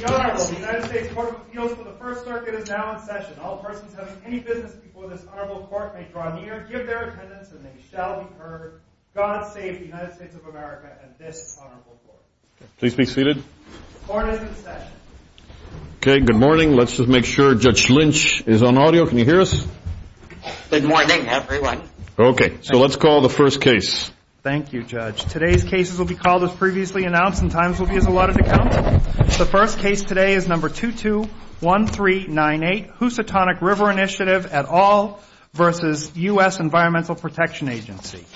The Honorable United States Court of Appeals for the First Circuit is now in session. All persons having any business before this Honorable Court may draw near, give their attendance, and they shall be heard. God save the United States of America and this Honorable Court. Please be seated. Court is in session. Okay, good morning. Let's just make sure Judge Lynch is on audio. Can you hear us? Good morning, everyone. Okay, so let's call the first case. Thank you, Judge. Today's cases will be called as previously announced, and times will be as allotted to count. The first case today is number 221398, Housatonic River Initiative et al. versus U.S. Environmental Protection Agency.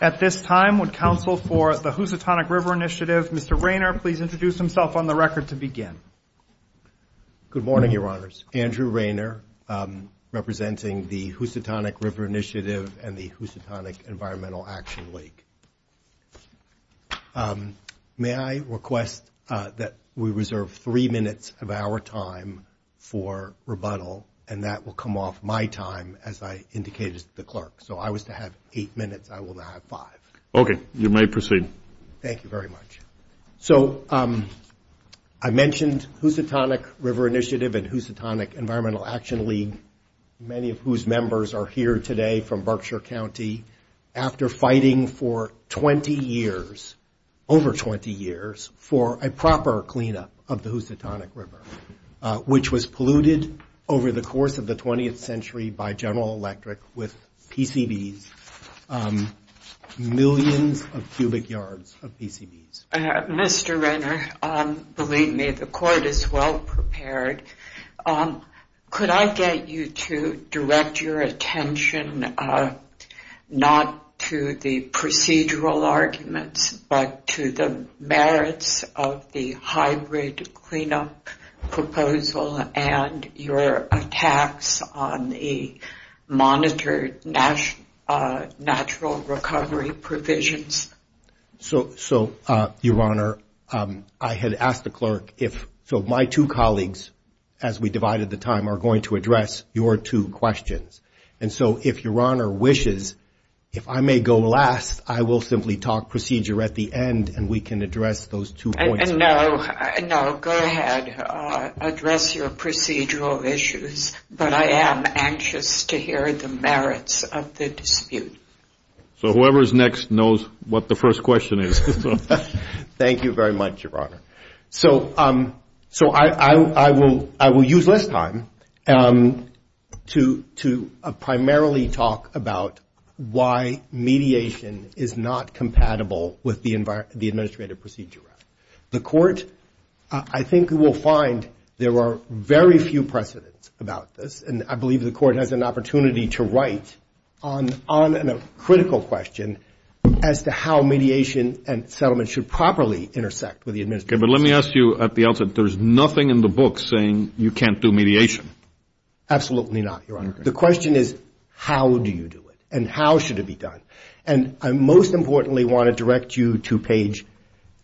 At this time, would counsel for the Housatonic River Initiative, Mr. Raynor, please introduce himself on the record to begin. Good morning, Your Honors. Andrew Raynor, representing the Housatonic River Initiative and the Housatonic Environmental Action League. May I request that we reserve three minutes of our time for rebuttal, and that will come off my time as I indicated to the clerk. So if I was to have eight minutes, I will now have five. Okay, you may proceed. Thank you very much. So I mentioned Housatonic River Initiative and Housatonic Environmental Action League, many of whose members are here today from Berkshire County, after fighting for 20 years, over 20 years, for a proper cleanup of the Housatonic River, which was polluted over the course of the 20th century by General Electric with PCBs, millions of cubic yards of PCBs. Mr. Raynor, believe me, the court is well prepared. Could I get you to direct your attention not to the procedural arguments, but to the merits of the hybrid cleanup proposal and your attacks on the monitored natural recovery provisions? So, Your Honor, I had asked the clerk if my two colleagues, as we divided the time, are going to address your two questions. And so if Your Honor wishes, if I may go last, I will simply talk procedure at the end, and we can address those two points. No, go ahead. Address your procedural issues. But I am anxious to hear the merits of the dispute. So whoever is next knows what the first question is. Thank you very much, Your Honor. So I will use less time to primarily talk about why mediation is not compatible with the Administrative Procedure Act. The court, I think you will find there are very few precedents about this. And I believe the court has an opportunity to write on a critical question as to how mediation and settlement should properly intersect with the Administrative Procedure Act. Okay, but let me ask you at the outset, there is nothing in the book saying you can't do mediation. Absolutely not, Your Honor. The question is how do you do it, and how should it be done. And I most importantly want to direct you to page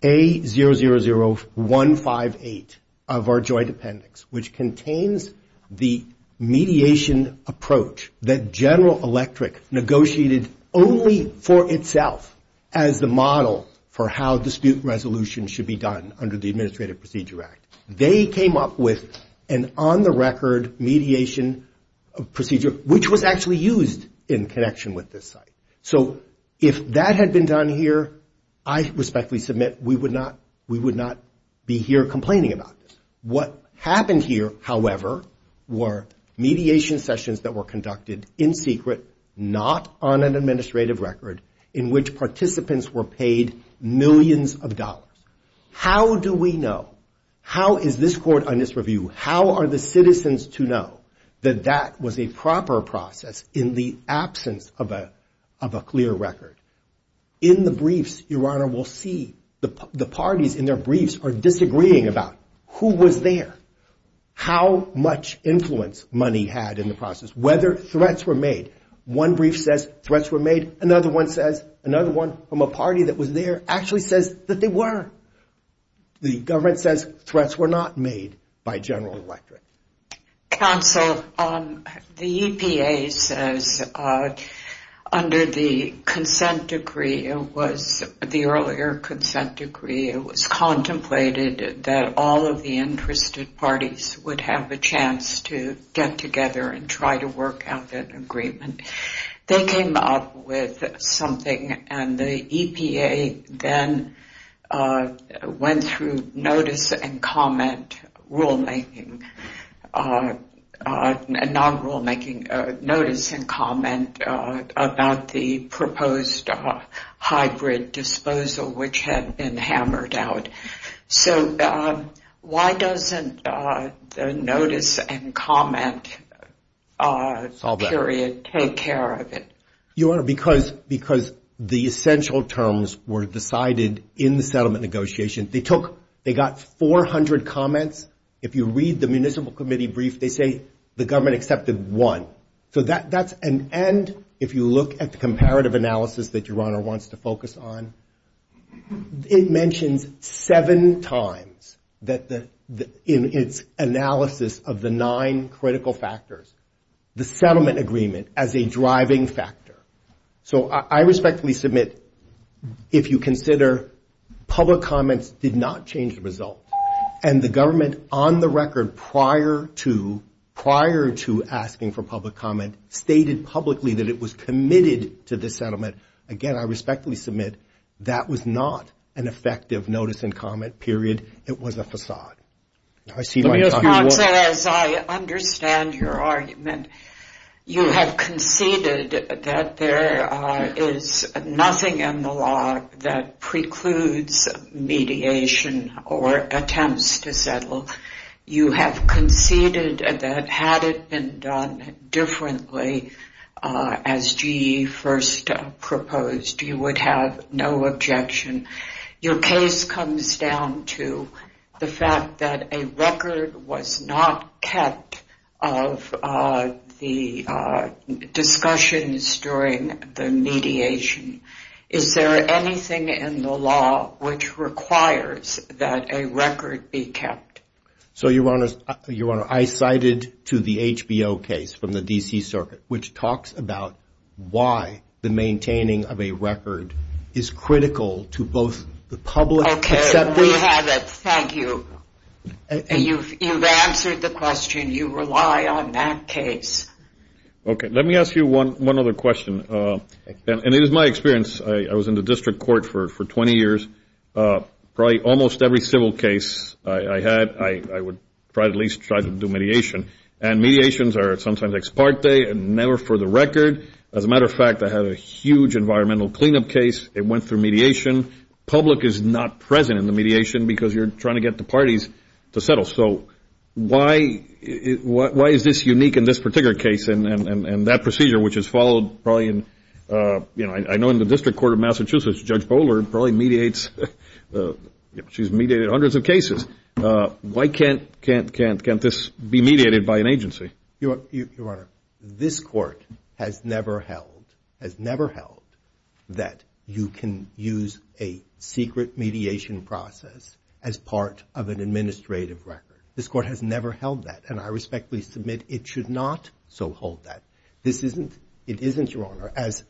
A000158 of our joint appendix, which contains the mediation and settlement mediation approach that General Electric negotiated only for itself as the model for how dispute resolution should be done under the Administrative Procedure Act. They came up with an on-the-record mediation procedure, which was actually used in connection with this site. So if that had been done here, I respectfully submit we would not be here complaining about this. What happened here, however, were mediation sessions that were conducted in secret, not on an administrative record in which participants were paid millions of dollars. How do we know, how is this court on this review, how are the citizens to know that that was a proper process in the absence of a clear record? In the briefs, Your Honor, we'll see the parties in their briefs are disagreeing about who was there, how much influence money had in the process, whether threats were made. One brief says threats were made, another one says, another one from a party that was there actually says that they were. The government says threats were not made by General Electric. Counsel, the EPA says under the consent decree, the earlier consent decree, it was contemplated that all of the interested parties would have a chance to get together and try to work out an agreement. They came up with something and the EPA then went through notice and comment rulemaking, not rulemaking, notice and comment about the proposed hybrid disposal, which had been hammered out. So why doesn't the notice and comment period take place? Your Honor, because the essential terms were decided in the settlement negotiation. They took, they got 400 comments. If you read the municipal committee brief, they say the government accepted one. So that's an end if you look at the comparative analysis that Your Honor wants to focus on. It mentions seven times that in its analysis of the nine critical factors, the settlement agreement as a driving factor. So I respectfully submit if you consider public comments did not change the result, and the government on the record prior to asking for public comment stated publicly that it was committed to the settlement, again, I respectfully submit that was not an effective notice and comment period. It was a facade. Let me ask you, as I understand your argument, you have conceded that there is nothing in the law that precludes mediation or attempts to settle. You have conceded that had it been done differently, as GE first proposed, you would have no objection. Your case comes down to the fact that a record was not kept of the discussions during the mediation. Is there anything in the law which requires that a record be kept? So, Your Honor, I cited to the HBO case from the D.C. Circuit, which talks about why the maintaining of a record is critical to both the public... Okay, we have it. Thank you. You've answered the question. You rely on that case. So why is this unique in this particular case and that procedure, which has followed probably in... I know in the District Court of Massachusetts, Judge Bowler probably mediates... She's mediated hundreds of cases. Why can't this be mediated by an agency? Your Honor, this Court has never held that you can use a secret mediation process as part of an administrative record. This Court has never held that, and I respectfully submit it should not so hold that. It isn't, Your Honor, as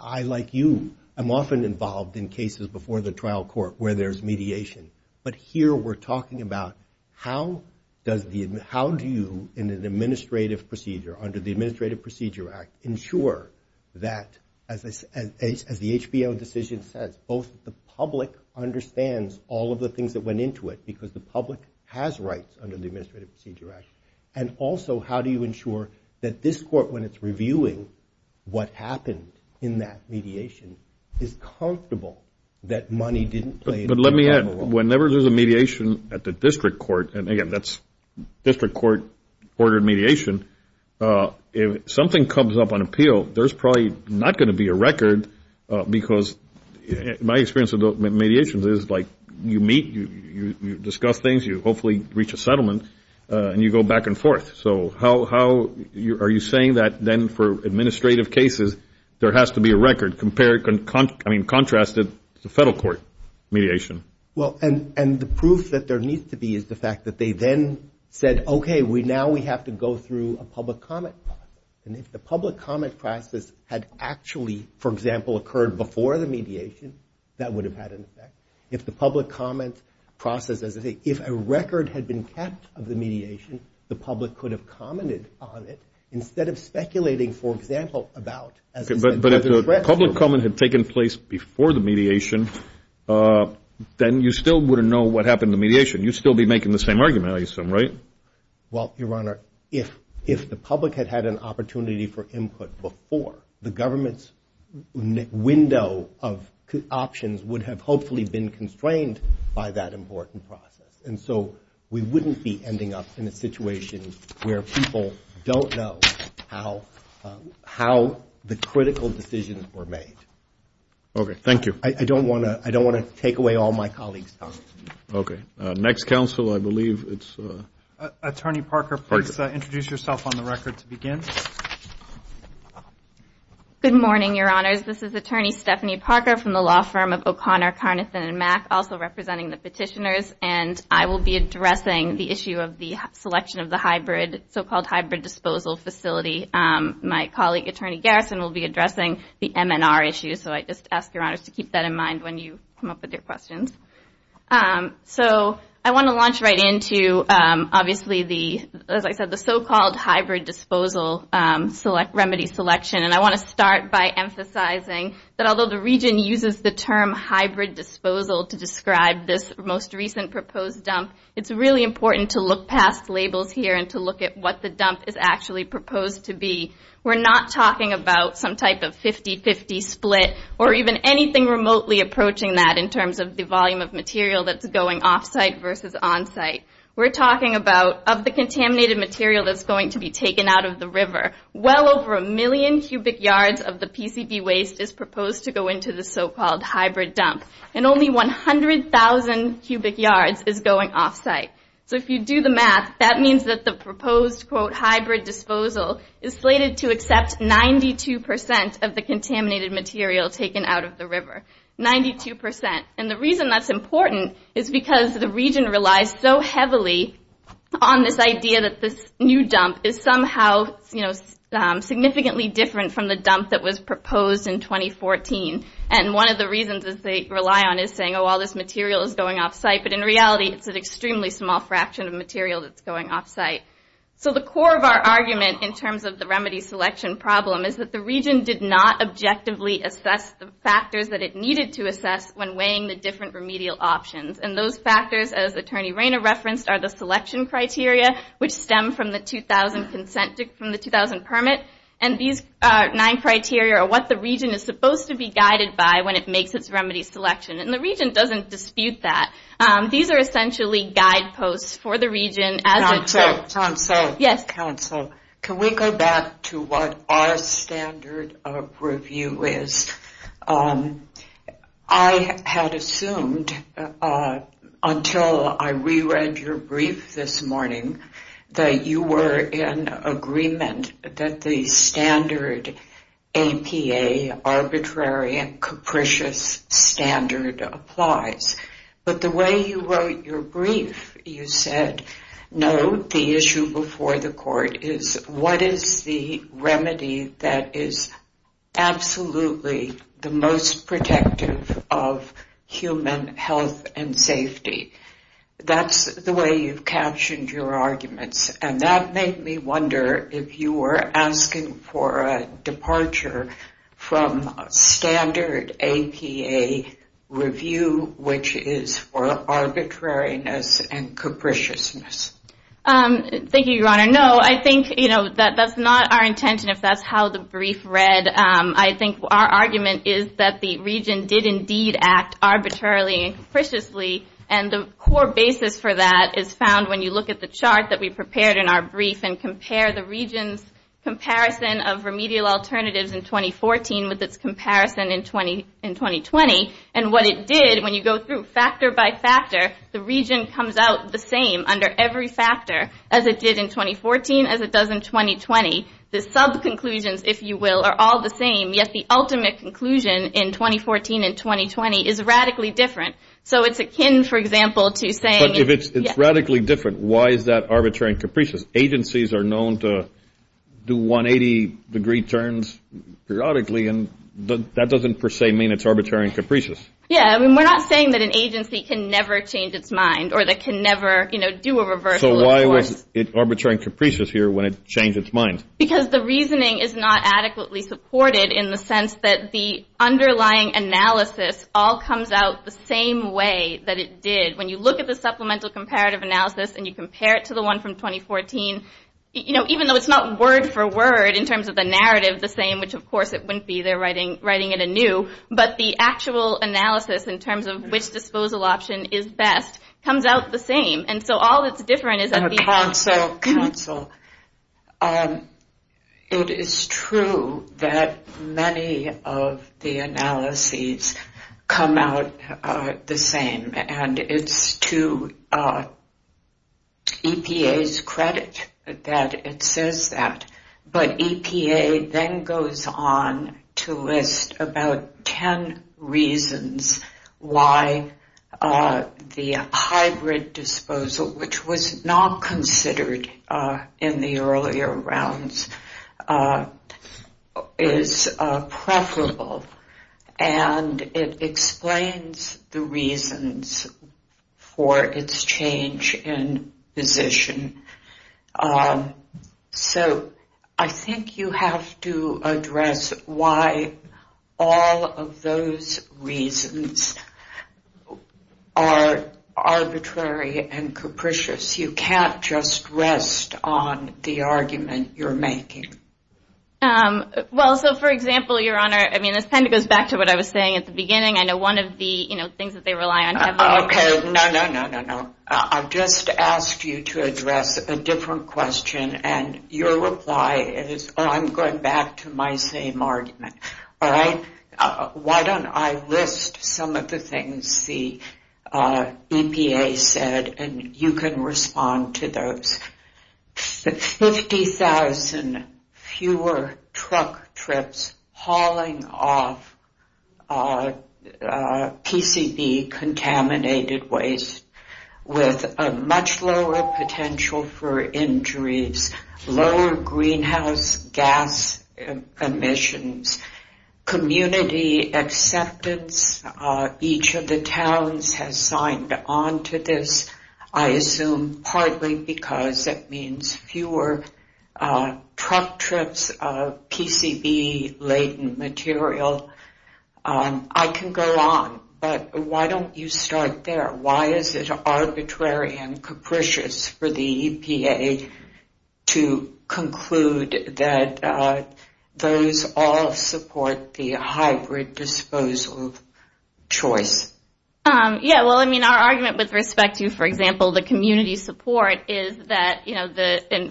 I, like you, am often involved in cases before the trial court where there's mediation. But here we're talking about how do you, in an administrative procedure, under the Administrative Procedure Act, ensure that, as the HBO decision says, both the public understands all of the things that went into it, because the public has rights under the Administrative Procedure Act, and also how do you ensure that this Court, when it's reviewing what happened in that mediation, is comfortable that money didn't play a role? But let me add, whenever there's a mediation at the District Court, and again, that's District Court-ordered mediation, if something comes up on appeal, there's probably not going to be a record, because my experience with mediations is, like, you meet, you discuss things, you hopefully reach a settlement, and you go back and forth. So how are you saying that, then, for administrative cases, there has to be a record compared, I mean, contrasted to federal court mediation? Well, and the proof that there needs to be is the fact that they then said, okay, now we have to go through a public comment process. And if the public comment process had actually, for example, occurred before the mediation, that would have had an effect. If the public comment process, as I say, if a record had been kept of the mediation, the public could have commented on it instead of speculating, for example, about, as I said- Okay, but if the public comment had taken place before the mediation, then you still wouldn't know what happened in the mediation. You'd still be making the same argument, I assume, right? Well, Your Honor, if the public had had an opportunity for input before, the government's window of options would have hopefully been constrained by that important process. And so we wouldn't be ending up in a situation where people don't know how the critical decisions were made. Okay, thank you. I don't want to take away all my colleagues' time. Okay, next counsel, I believe it's- Attorney Parker, please introduce yourself on the record to begin. Good morning, Your Honors. This is Attorney Stephanie Parker from the law firm of O'Connor, Carnathan & Mack, also representing the petitioners. And I will be addressing the issue of the selection of the so-called hybrid disposal facility. My colleague, Attorney Garrison, will be addressing the MNR issue. So I just ask Your Honors to keep that in mind when you come up with your questions. So I want to launch right into, obviously, the- as I said, the so-called hybrid disposal remedy selection. And I want to start by emphasizing that although the Region uses the term hybrid disposal to describe this most recent proposed dump, it's really important to look past labels here and to look at what the dump is actually proposed to be. We're not talking about some type of 50-50 split or even anything remotely approaching that in terms of the volume of material that's going off-site versus on-site. We're talking about, of the contaminated material that's going to be taken out of the river, well over a million cubic yards of the PCV waste is proposed to go into the so-called hybrid dump. And only 100,000 cubic yards is going off-site. So if you do the math, that means that the proposed, quote, hybrid disposal is slated to accept 92% of the contaminated material taken out of the river. 92%. And the reason that's important is because the Region relies so heavily on this idea that this new dump is somehow, you know, significantly different from the dump that was proposed in 2014. And one of the reasons that they rely on is saying, oh, all this material is going off-site, but in reality, it's an extremely small fraction of material that's going off-site. So the core of our argument in terms of the remedy selection problem is that the Region did not objectively assess the factors that it needed to assess when weighing the different remedial options. And those factors, as Attorney Rayner referenced, are the selection criteria, which stem from the 2000 permit. And these nine criteria are what the Region is supposed to be guided by when it makes its remedy selection. And the Region doesn't dispute that. These are essentially guideposts for the Region. Council, Council, Council. Yes. Can we go back to what our standard of review is? I had assumed until I re-read your brief this morning that you were in agreement that the standard APA, arbitrary and capricious standard, applies. But the way you wrote your brief, you said, no, the issue before the Court is what is the remedy that is absolutely the most protective of human health and safety. That's the way you've captioned your arguments. And that made me wonder if you were asking for a departure from standard APA review, which is for arbitrariness and capriciousness. Thank you, Your Honor. No, I think that's not our intention, if that's how the brief read. I think our argument is that the Region did indeed act arbitrarily and capriciously. And the core basis for that is found when you look at the chart that we prepared in our brief and compare the Region's comparison of remedial alternatives in 2014 with its comparison in 2020. And what it did, when you go through factor by factor, the Region comes out the same under every factor as it did in 2014, as it does in 2020. The sub-conclusions, if you will, are all the same. Yet the ultimate conclusion in 2014 and 2020 is radically different. So it's akin, for example, to saying – But if it's radically different, why is that arbitrary and capricious? Agencies are known to do 180-degree turns periodically, and that doesn't per se mean it's arbitrary and capricious. Yeah, I mean, we're not saying that an agency can never change its mind or that it can never do a reversal of course. So why was it arbitrary and capricious here when it changed its mind? Because the reasoning is not adequately supported in the sense that the underlying analysis all comes out the same way that it did. When you look at the supplemental comparative analysis and you compare it to the one from 2014, even though it's not word for word in terms of the narrative the same, which of course it wouldn't be, they're writing it anew, but the actual analysis in terms of which disposal option is best comes out the same. And so all that's different is that the – Also, counsel, it is true that many of the analyses come out the same, and it's to EPA's credit that it says that. But EPA then goes on to list about ten reasons why the hybrid disposal, which was not considered in the earlier rounds, is preferable. And it explains the reasons for its change in position. So I think you have to address why all of those reasons are arbitrary and capricious. You can't just rest on the argument you're making. Well, so, for example, Your Honor, I mean, this kind of goes back to what I was saying at the beginning. I know one of the things that they rely on heavily. Okay, no, no, no, no, no. I've just asked you to address a different question, and your reply is, oh, I'm going back to my same argument, all right? Why don't I list some of the things the EPA said, and you can respond to those. 50,000 fewer truck trips hauling off PCB-contaminated waste with a much lower potential for injuries, lower greenhouse gas emissions, community acceptance, each of the towns has signed on to this, I assume, partly because it means fewer truck trips of PCB-laden material. I can go on, but why don't you start there? Why is it arbitrary and capricious for the EPA to conclude that those all support the hybrid disposal choice? Yeah, well, I mean, our argument with respect to, for example, the community support is that,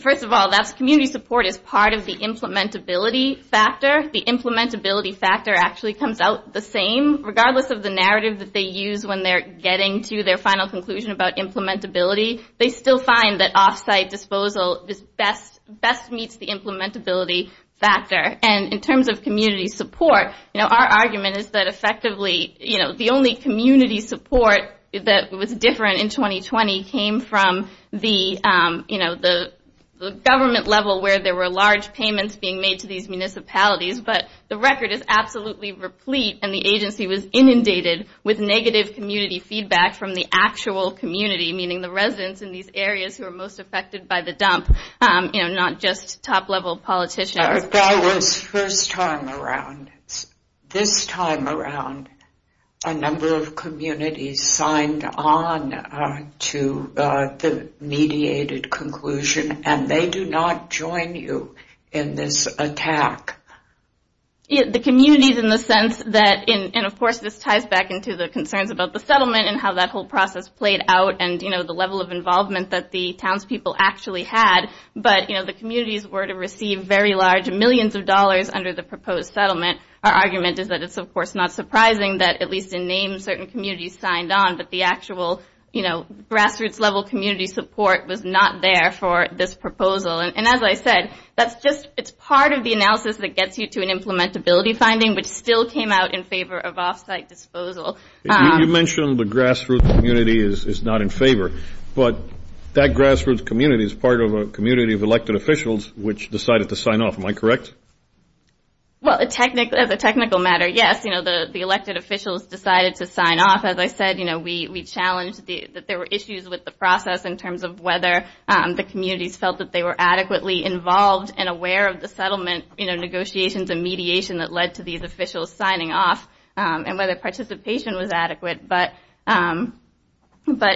first of all, community support is part of the implementability factor. The implementability factor actually comes out the same, regardless of the narrative that they use when they're getting to their final conclusion about implementability. They still find that off-site disposal best meets the implementability factor. And in terms of community support, our argument is that, effectively, the only community support that was different in 2020 came from the government level where there were large payments being made to these municipalities. But the record is absolutely replete, and the agency was inundated with negative community feedback from the actual community, meaning the residents in these areas who are most affected by the dump, not just top-level politicians. That was first time around. This time around, a number of communities signed on to the mediated conclusion, and they do not join you in this attack. The communities in the sense that, and, of course, this ties back into the concerns about the settlement and how that whole process played out and the level of involvement that the townspeople actually had, but the communities were to receive very large millions of dollars under the proposed settlement. Our argument is that it's, of course, not surprising that, at least in name, certain communities signed on, but the actual grassroots-level community support was not there for this proposal. And as I said, that's just part of the analysis that gets you to an implementability finding, which still came out in favor of off-site disposal. You mentioned the grassroots community is not in favor, but that grassroots community is part of a community of elected officials which decided to sign off. Am I correct? Well, as a technical matter, yes. The elected officials decided to sign off. As I said, we challenged that there were issues with the process in terms of whether the communities felt that they were adequately involved and aware of the settlement negotiations and mediation that led to these officials signing off and whether participation was adequate. But,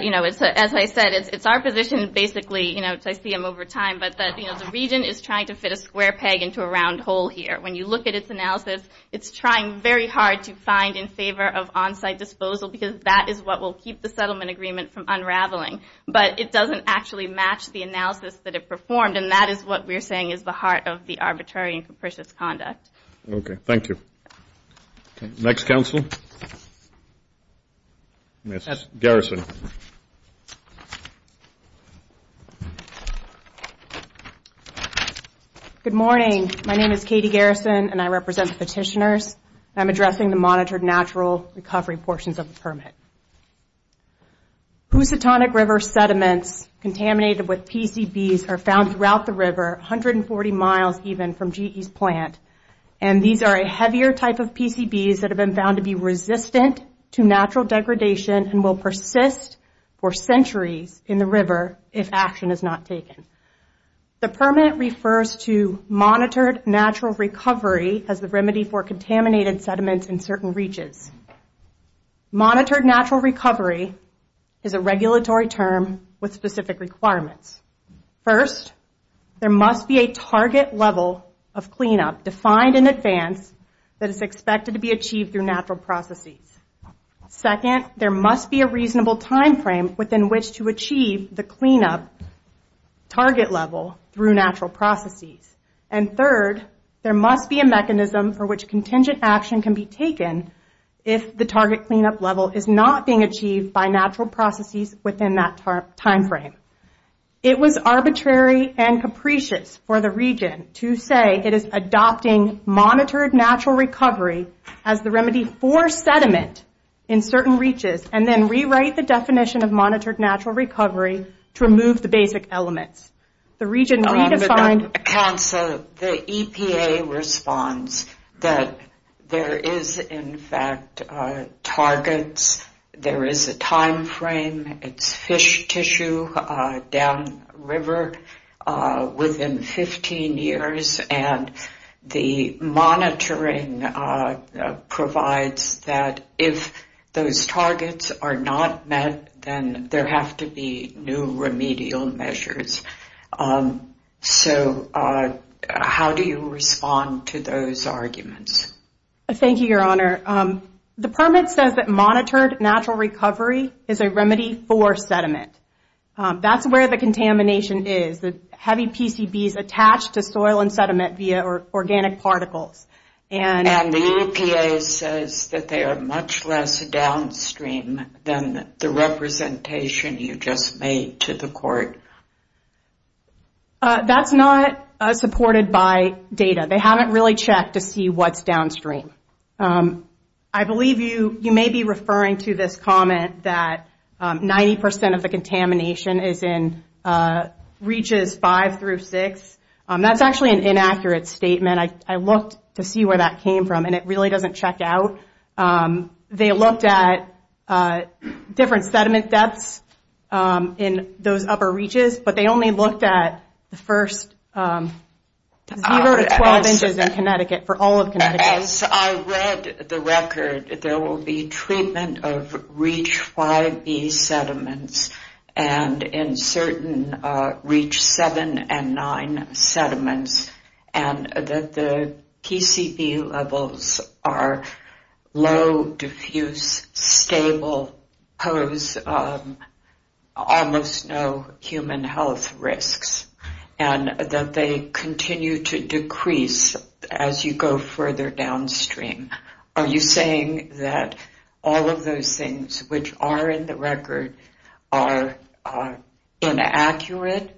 you know, as I said, it's our position basically, you know, as I see them over time, but that the region is trying to fit a square peg into a round hole here. When you look at its analysis, it's trying very hard to find in favor of on-site disposal because that is what will keep the settlement agreement from unraveling. But it doesn't actually match the analysis that it performed, and that is what we're saying is the heart of the arbitrary and capricious conduct. Okay. Thank you. Next counsel, Ms. Garrison. Good morning. My name is Katie Garrison, and I represent the petitioners. I'm addressing the monitored natural recovery portions of the permit. Housatonic River sediments contaminated with PCBs are found throughout the river, 140 miles even from GE's plant, and these are a heavier type of PCBs that have been found to be resistant to natural degradation and will persist for centuries in the river if action is not taken. The permit refers to monitored natural recovery as the remedy for contaminated sediments in certain reaches. Monitored natural recovery is a regulatory term with specific requirements. First, there must be a target level of cleanup defined in advance that is expected to be achieved through natural processes. Second, there must be a reasonable timeframe within which to achieve the cleanup target level through natural processes. And third, there must be a mechanism for which contingent action can be taken if the target cleanup level is not being achieved by natural processes within that timeframe. It was arbitrary and capricious for the region to say it is adopting monitored natural recovery as the remedy for sediment in certain reaches and then rewrite the definition of monitored natural recovery to remove the basic elements. The region redefined... The EPA responds that there is in fact targets, there is a timeframe, it's fish tissue down river within 15 years and the monitoring provides that if those targets are not met, then there have to be new remedial measures. So how do you respond to those arguments? Thank you, Your Honor. The permit says that monitored natural recovery is a remedy for sediment. That's where the contamination is, the heavy PCBs attached to soil and sediment via organic particles. And the EPA says that they are much less downstream than the representation you just made to the court. That's not supported by data. They haven't really checked to see what's downstream. I believe you may be referring to this comment that 90% of the contamination is in reaches 5 through 6. That's actually an inaccurate statement. I looked to see where that came from and it really doesn't check out. They looked at different sediment depths in those upper reaches, but they only looked at the first 0 to 12 inches in Connecticut, for all of Connecticut. As I read the record, there will be treatment of reach 5B sediments and in certain reach 7 and 9 sediments and that the PCB levels are low, diffuse, stable, pose almost no human health risks and that they continue to decrease as you go further downstream. Are you saying that all of those things which are in the record are inaccurate?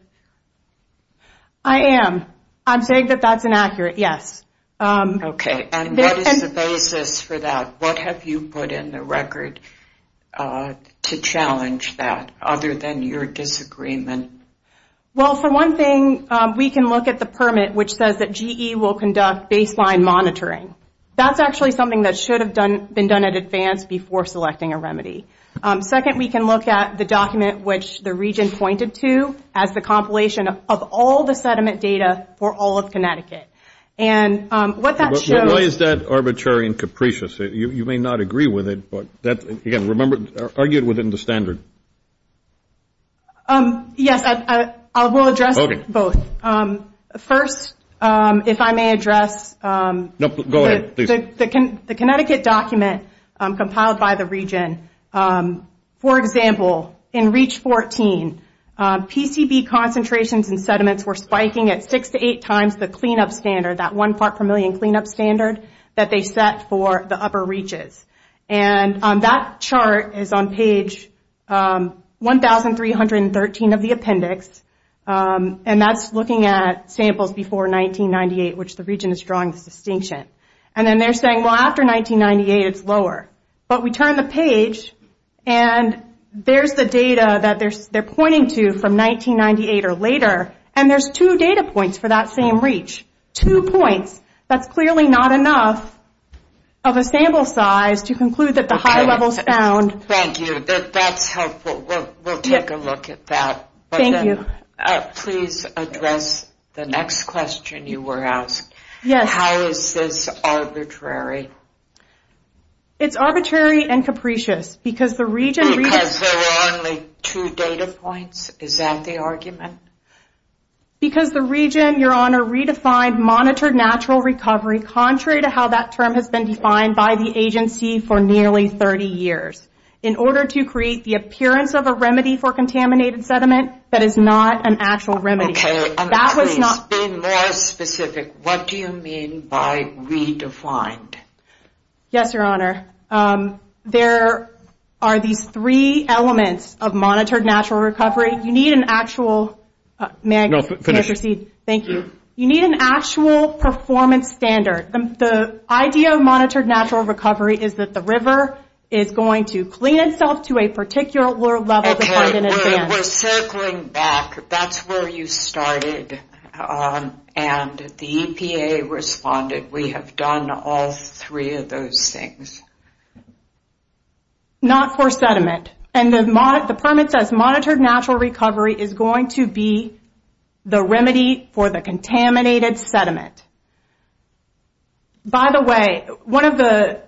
I am. I'm saying that that's inaccurate, yes. Okay. And what is the basis for that? What have you put in the record to challenge that other than your disagreement? Well, for one thing, we can look at the permit which says that GE will conduct baseline monitoring. That's actually something that should have been done in advance before selecting a remedy. Second, we can look at the document which the region pointed to as the compilation of all the sediment data for all of Connecticut. Why is that arbitrary and capricious? You may not agree with it, but again, argue it within the standard. Yes, I will address both. First, if I may address the Connecticut document compiled by the region. For example, in reach 14, PCB concentrations in sediments were spiking at six to eight times the clean-up standard, that one part per million clean-up standard that they set for the upper reaches. That chart is on page 1,313 of the appendix. That's looking at samples before 1998, which the region is drawing this distinction. Then they're saying, well, after 1998, it's lower. But we turn the page, and there's the data that they're pointing to from 1998 or later, and there's two data points for that same reach. Two points. That's clearly not enough of a sample size to conclude that the high level is found. Thank you. That's helpful. We'll take a look at that. Thank you. Please address the next question you were asked. Yes. How is this arbitrary? It's arbitrary and capricious because the region... Because there are only two data points? Is that the argument? Because the region, Your Honor, redefined monitored natural recovery contrary to how that term has been defined by the agency for nearly 30 years. In order to create the appearance of a remedy for contaminated sediment, that is not an actual remedy. Okay. Please be more specific. What do you mean by redefined? Yes, Your Honor. There are these three elements of monitored natural recovery. You need an actual... May I proceed? No, finish. Thank you. You need an actual performance standard. The idea of monitored natural recovery is that the river is going to clean itself to a particular level defined in advance. Okay. We're circling back. That's where you started, and the EPA responded. We have done all three of those things. Not for sediment. The permit says monitored natural recovery is going to be the remedy for the contaminated sediment. By the way, one of the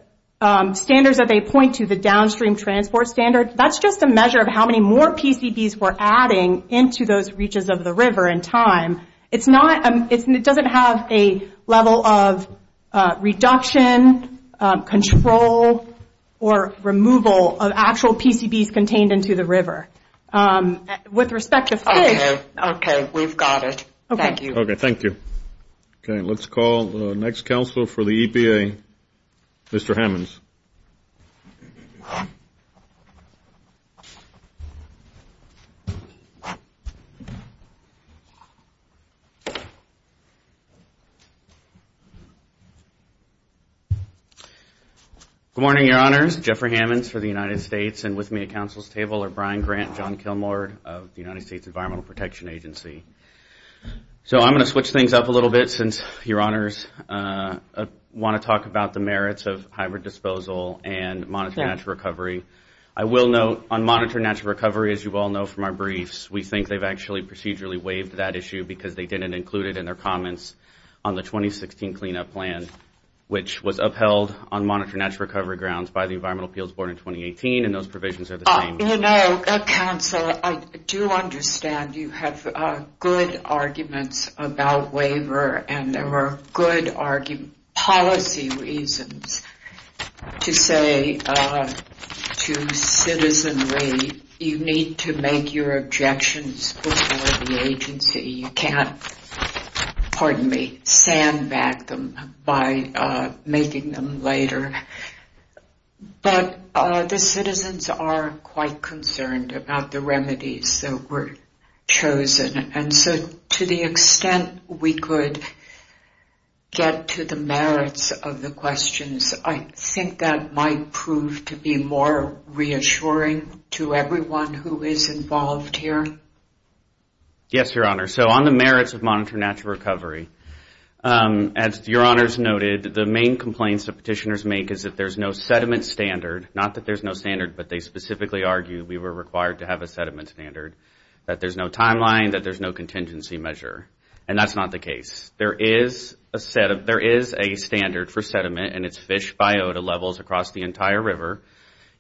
standards that they point to, the downstream transport standard, that's just a measure of how many more PCBs we're adding into those reaches of the river in time. It's not... It doesn't have a level of reduction, control, or removal of actual PCBs contained into the river. With respect to... Okay. Okay. We've got it. Thank you. Okay. Thank you. Okay. Let's call the next counsel for the EPA, Mr. Hammonds. Good morning, Your Honors. Jeffrey Hammonds for the United States, and with me at counsel's table are Brian Grant, John Kilmore of the United States Environmental Protection Agency. I'm going to switch things up a little bit since Your Honors want to talk about the merits of hybrid disposal and monitored natural recovery. I will note on monitored natural recovery, as you all know from our briefs, we think they've actually procedurally waived that issue because they didn't include it in their comments on the 2016 cleanup plan, which was upheld on monitored natural recovery grounds by the Environmental Appeals Board in 2018, and those provisions are the same. You know, counsel, I do understand you have good arguments about waiver, and there were good policy reasons to say to citizenry, you need to make your objections before the agency. You can't, pardon me, sandbag them by making them later. But the citizens are quite concerned about the remedies that were chosen, and so to the extent we could get to the merits of the questions, I think that might prove to be more reassuring to everyone who is involved here. Yes, Your Honor. So on the merits of monitored natural recovery, as Your Honors noted, the main complaints that petitioners make is that there's no sediment standard, not that there's no standard, but they specifically argue we were required to have a sediment standard, that there's no timeline, that there's no contingency measure, and that's not the case. There is a standard for sediment, and it's fish biota levels across the entire river.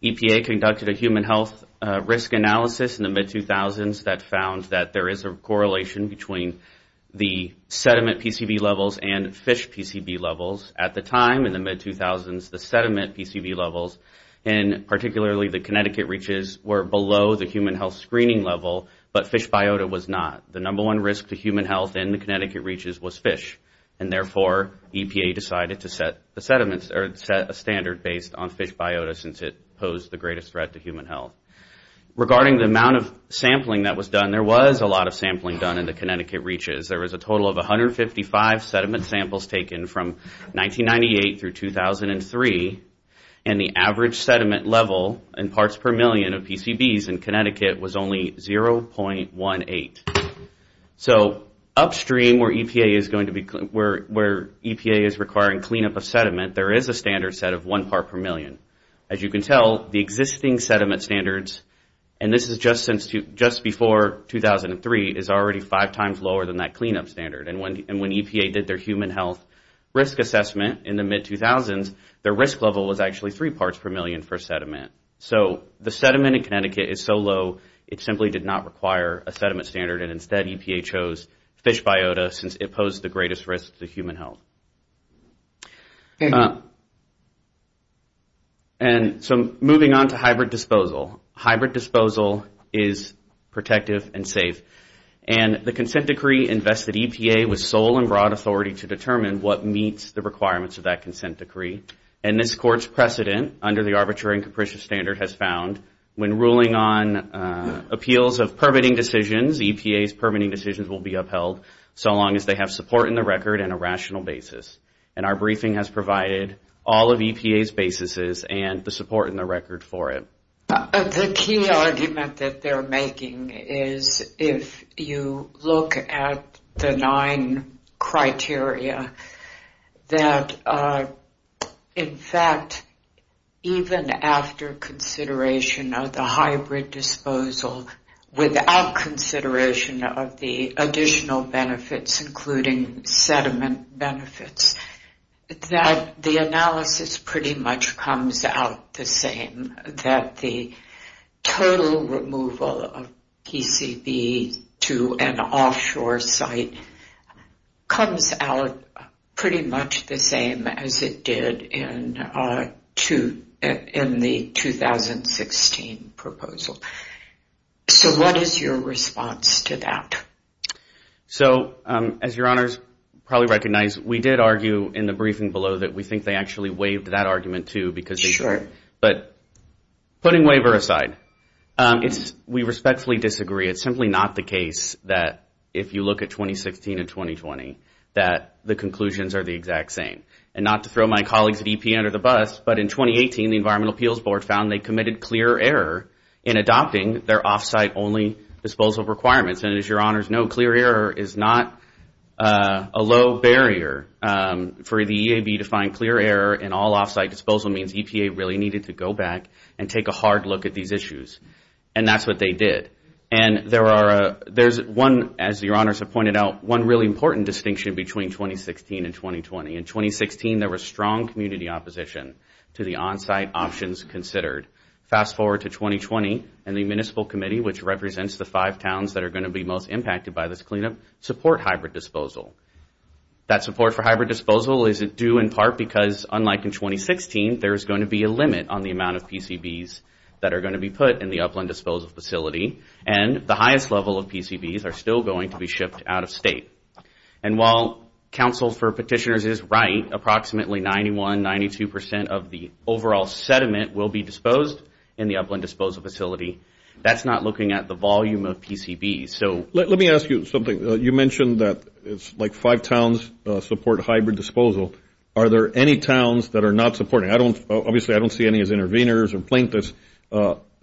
EPA conducted a human health risk analysis in the mid-2000s that found that there is a correlation between the sediment PCB levels and fish PCB levels. At the time, in the mid-2000s, the sediment PCB levels, and particularly the Connecticut reaches, were below the human health screening level, but fish biota was not. The number one risk to human health in the Connecticut reaches was fish, and therefore EPA decided to set a standard based on fish biota since it posed the greatest threat to human health. Regarding the amount of sampling that was done, there was a lot of sampling done in the Connecticut reaches. There was a total of 155 sediment samples taken from 1998 through 2003, and the average sediment level in parts per million of PCBs in Connecticut was only 0.18. So upstream where EPA is requiring cleanup of sediment, there is a standard set of one part per million. As you can tell, the existing sediment standards, and this is just before 2003, is already five times lower than that cleanup standard, and when EPA did their human health risk assessment in the mid-2000s, their risk level was actually three parts per million for sediment. So the sediment in Connecticut is so low, it simply did not require a sediment standard, and instead EPA chose fish biota since it posed the greatest risk to human health. And so moving on to hybrid disposal. Hybrid disposal is protective and safe, and the consent decree invested EPA with sole and broad authority to determine what meets the requirements of that consent decree, and this court's precedent under the arbitrary and capricious standard has found when ruling on appeals of permitting decisions, EPA's permitting decisions will be upheld so long as they have support in the record and a rational basis. And our briefing has provided all of EPA's basises and the support in the record for it. The key argument that they're making is if you look at the nine criteria, that in fact even after consideration of the hybrid disposal, without consideration of the additional benefits including sediment benefits, that the analysis pretty much comes out the same, that the total removal of PCB to an offshore site comes out pretty much the same as it did in the 2016 proposal. So what is your response to that? So as your honors probably recognize, we did argue in the briefing below that we think they actually waived that argument too. Sure. But putting waiver aside, we respectfully disagree. It's simply not the case that if you look at 2016 and 2020, that the conclusions are the exact same. And not to throw my colleagues at EPA under the bus, but in 2018 the Environmental Appeals Board found they committed clear error in adopting their off-site only disposal requirements. And as your honors know, clear error is not a low barrier for the EAB to find clear error in all off-site disposal means EPA really needed to go back and take a hard look at these issues. And that's what they did. And there's one, as your honors have pointed out, one really important distinction between 2016 and 2020. In 2016 there was strong community opposition to the on-site options considered. Fast forward to 2020 and the Municipal Committee, which represents the five towns that are going to be most impacted by this cleanup, support hybrid disposal. That support for hybrid disposal is due in part because unlike in 2016, there's going to be a limit on the amount of PCBs that are going to be put in the upland disposal facility. And the highest level of PCBs are still going to be shipped out of state. And while Council for Petitioners is right, approximately 91%, 92% of the overall sediment will be disposed in the upland disposal facility. That's not looking at the volume of PCBs. Let me ask you something. You mentioned that it's like five towns support hybrid disposal. Are there any towns that are not supporting? Obviously I don't see any as intervenors or plaintiffs.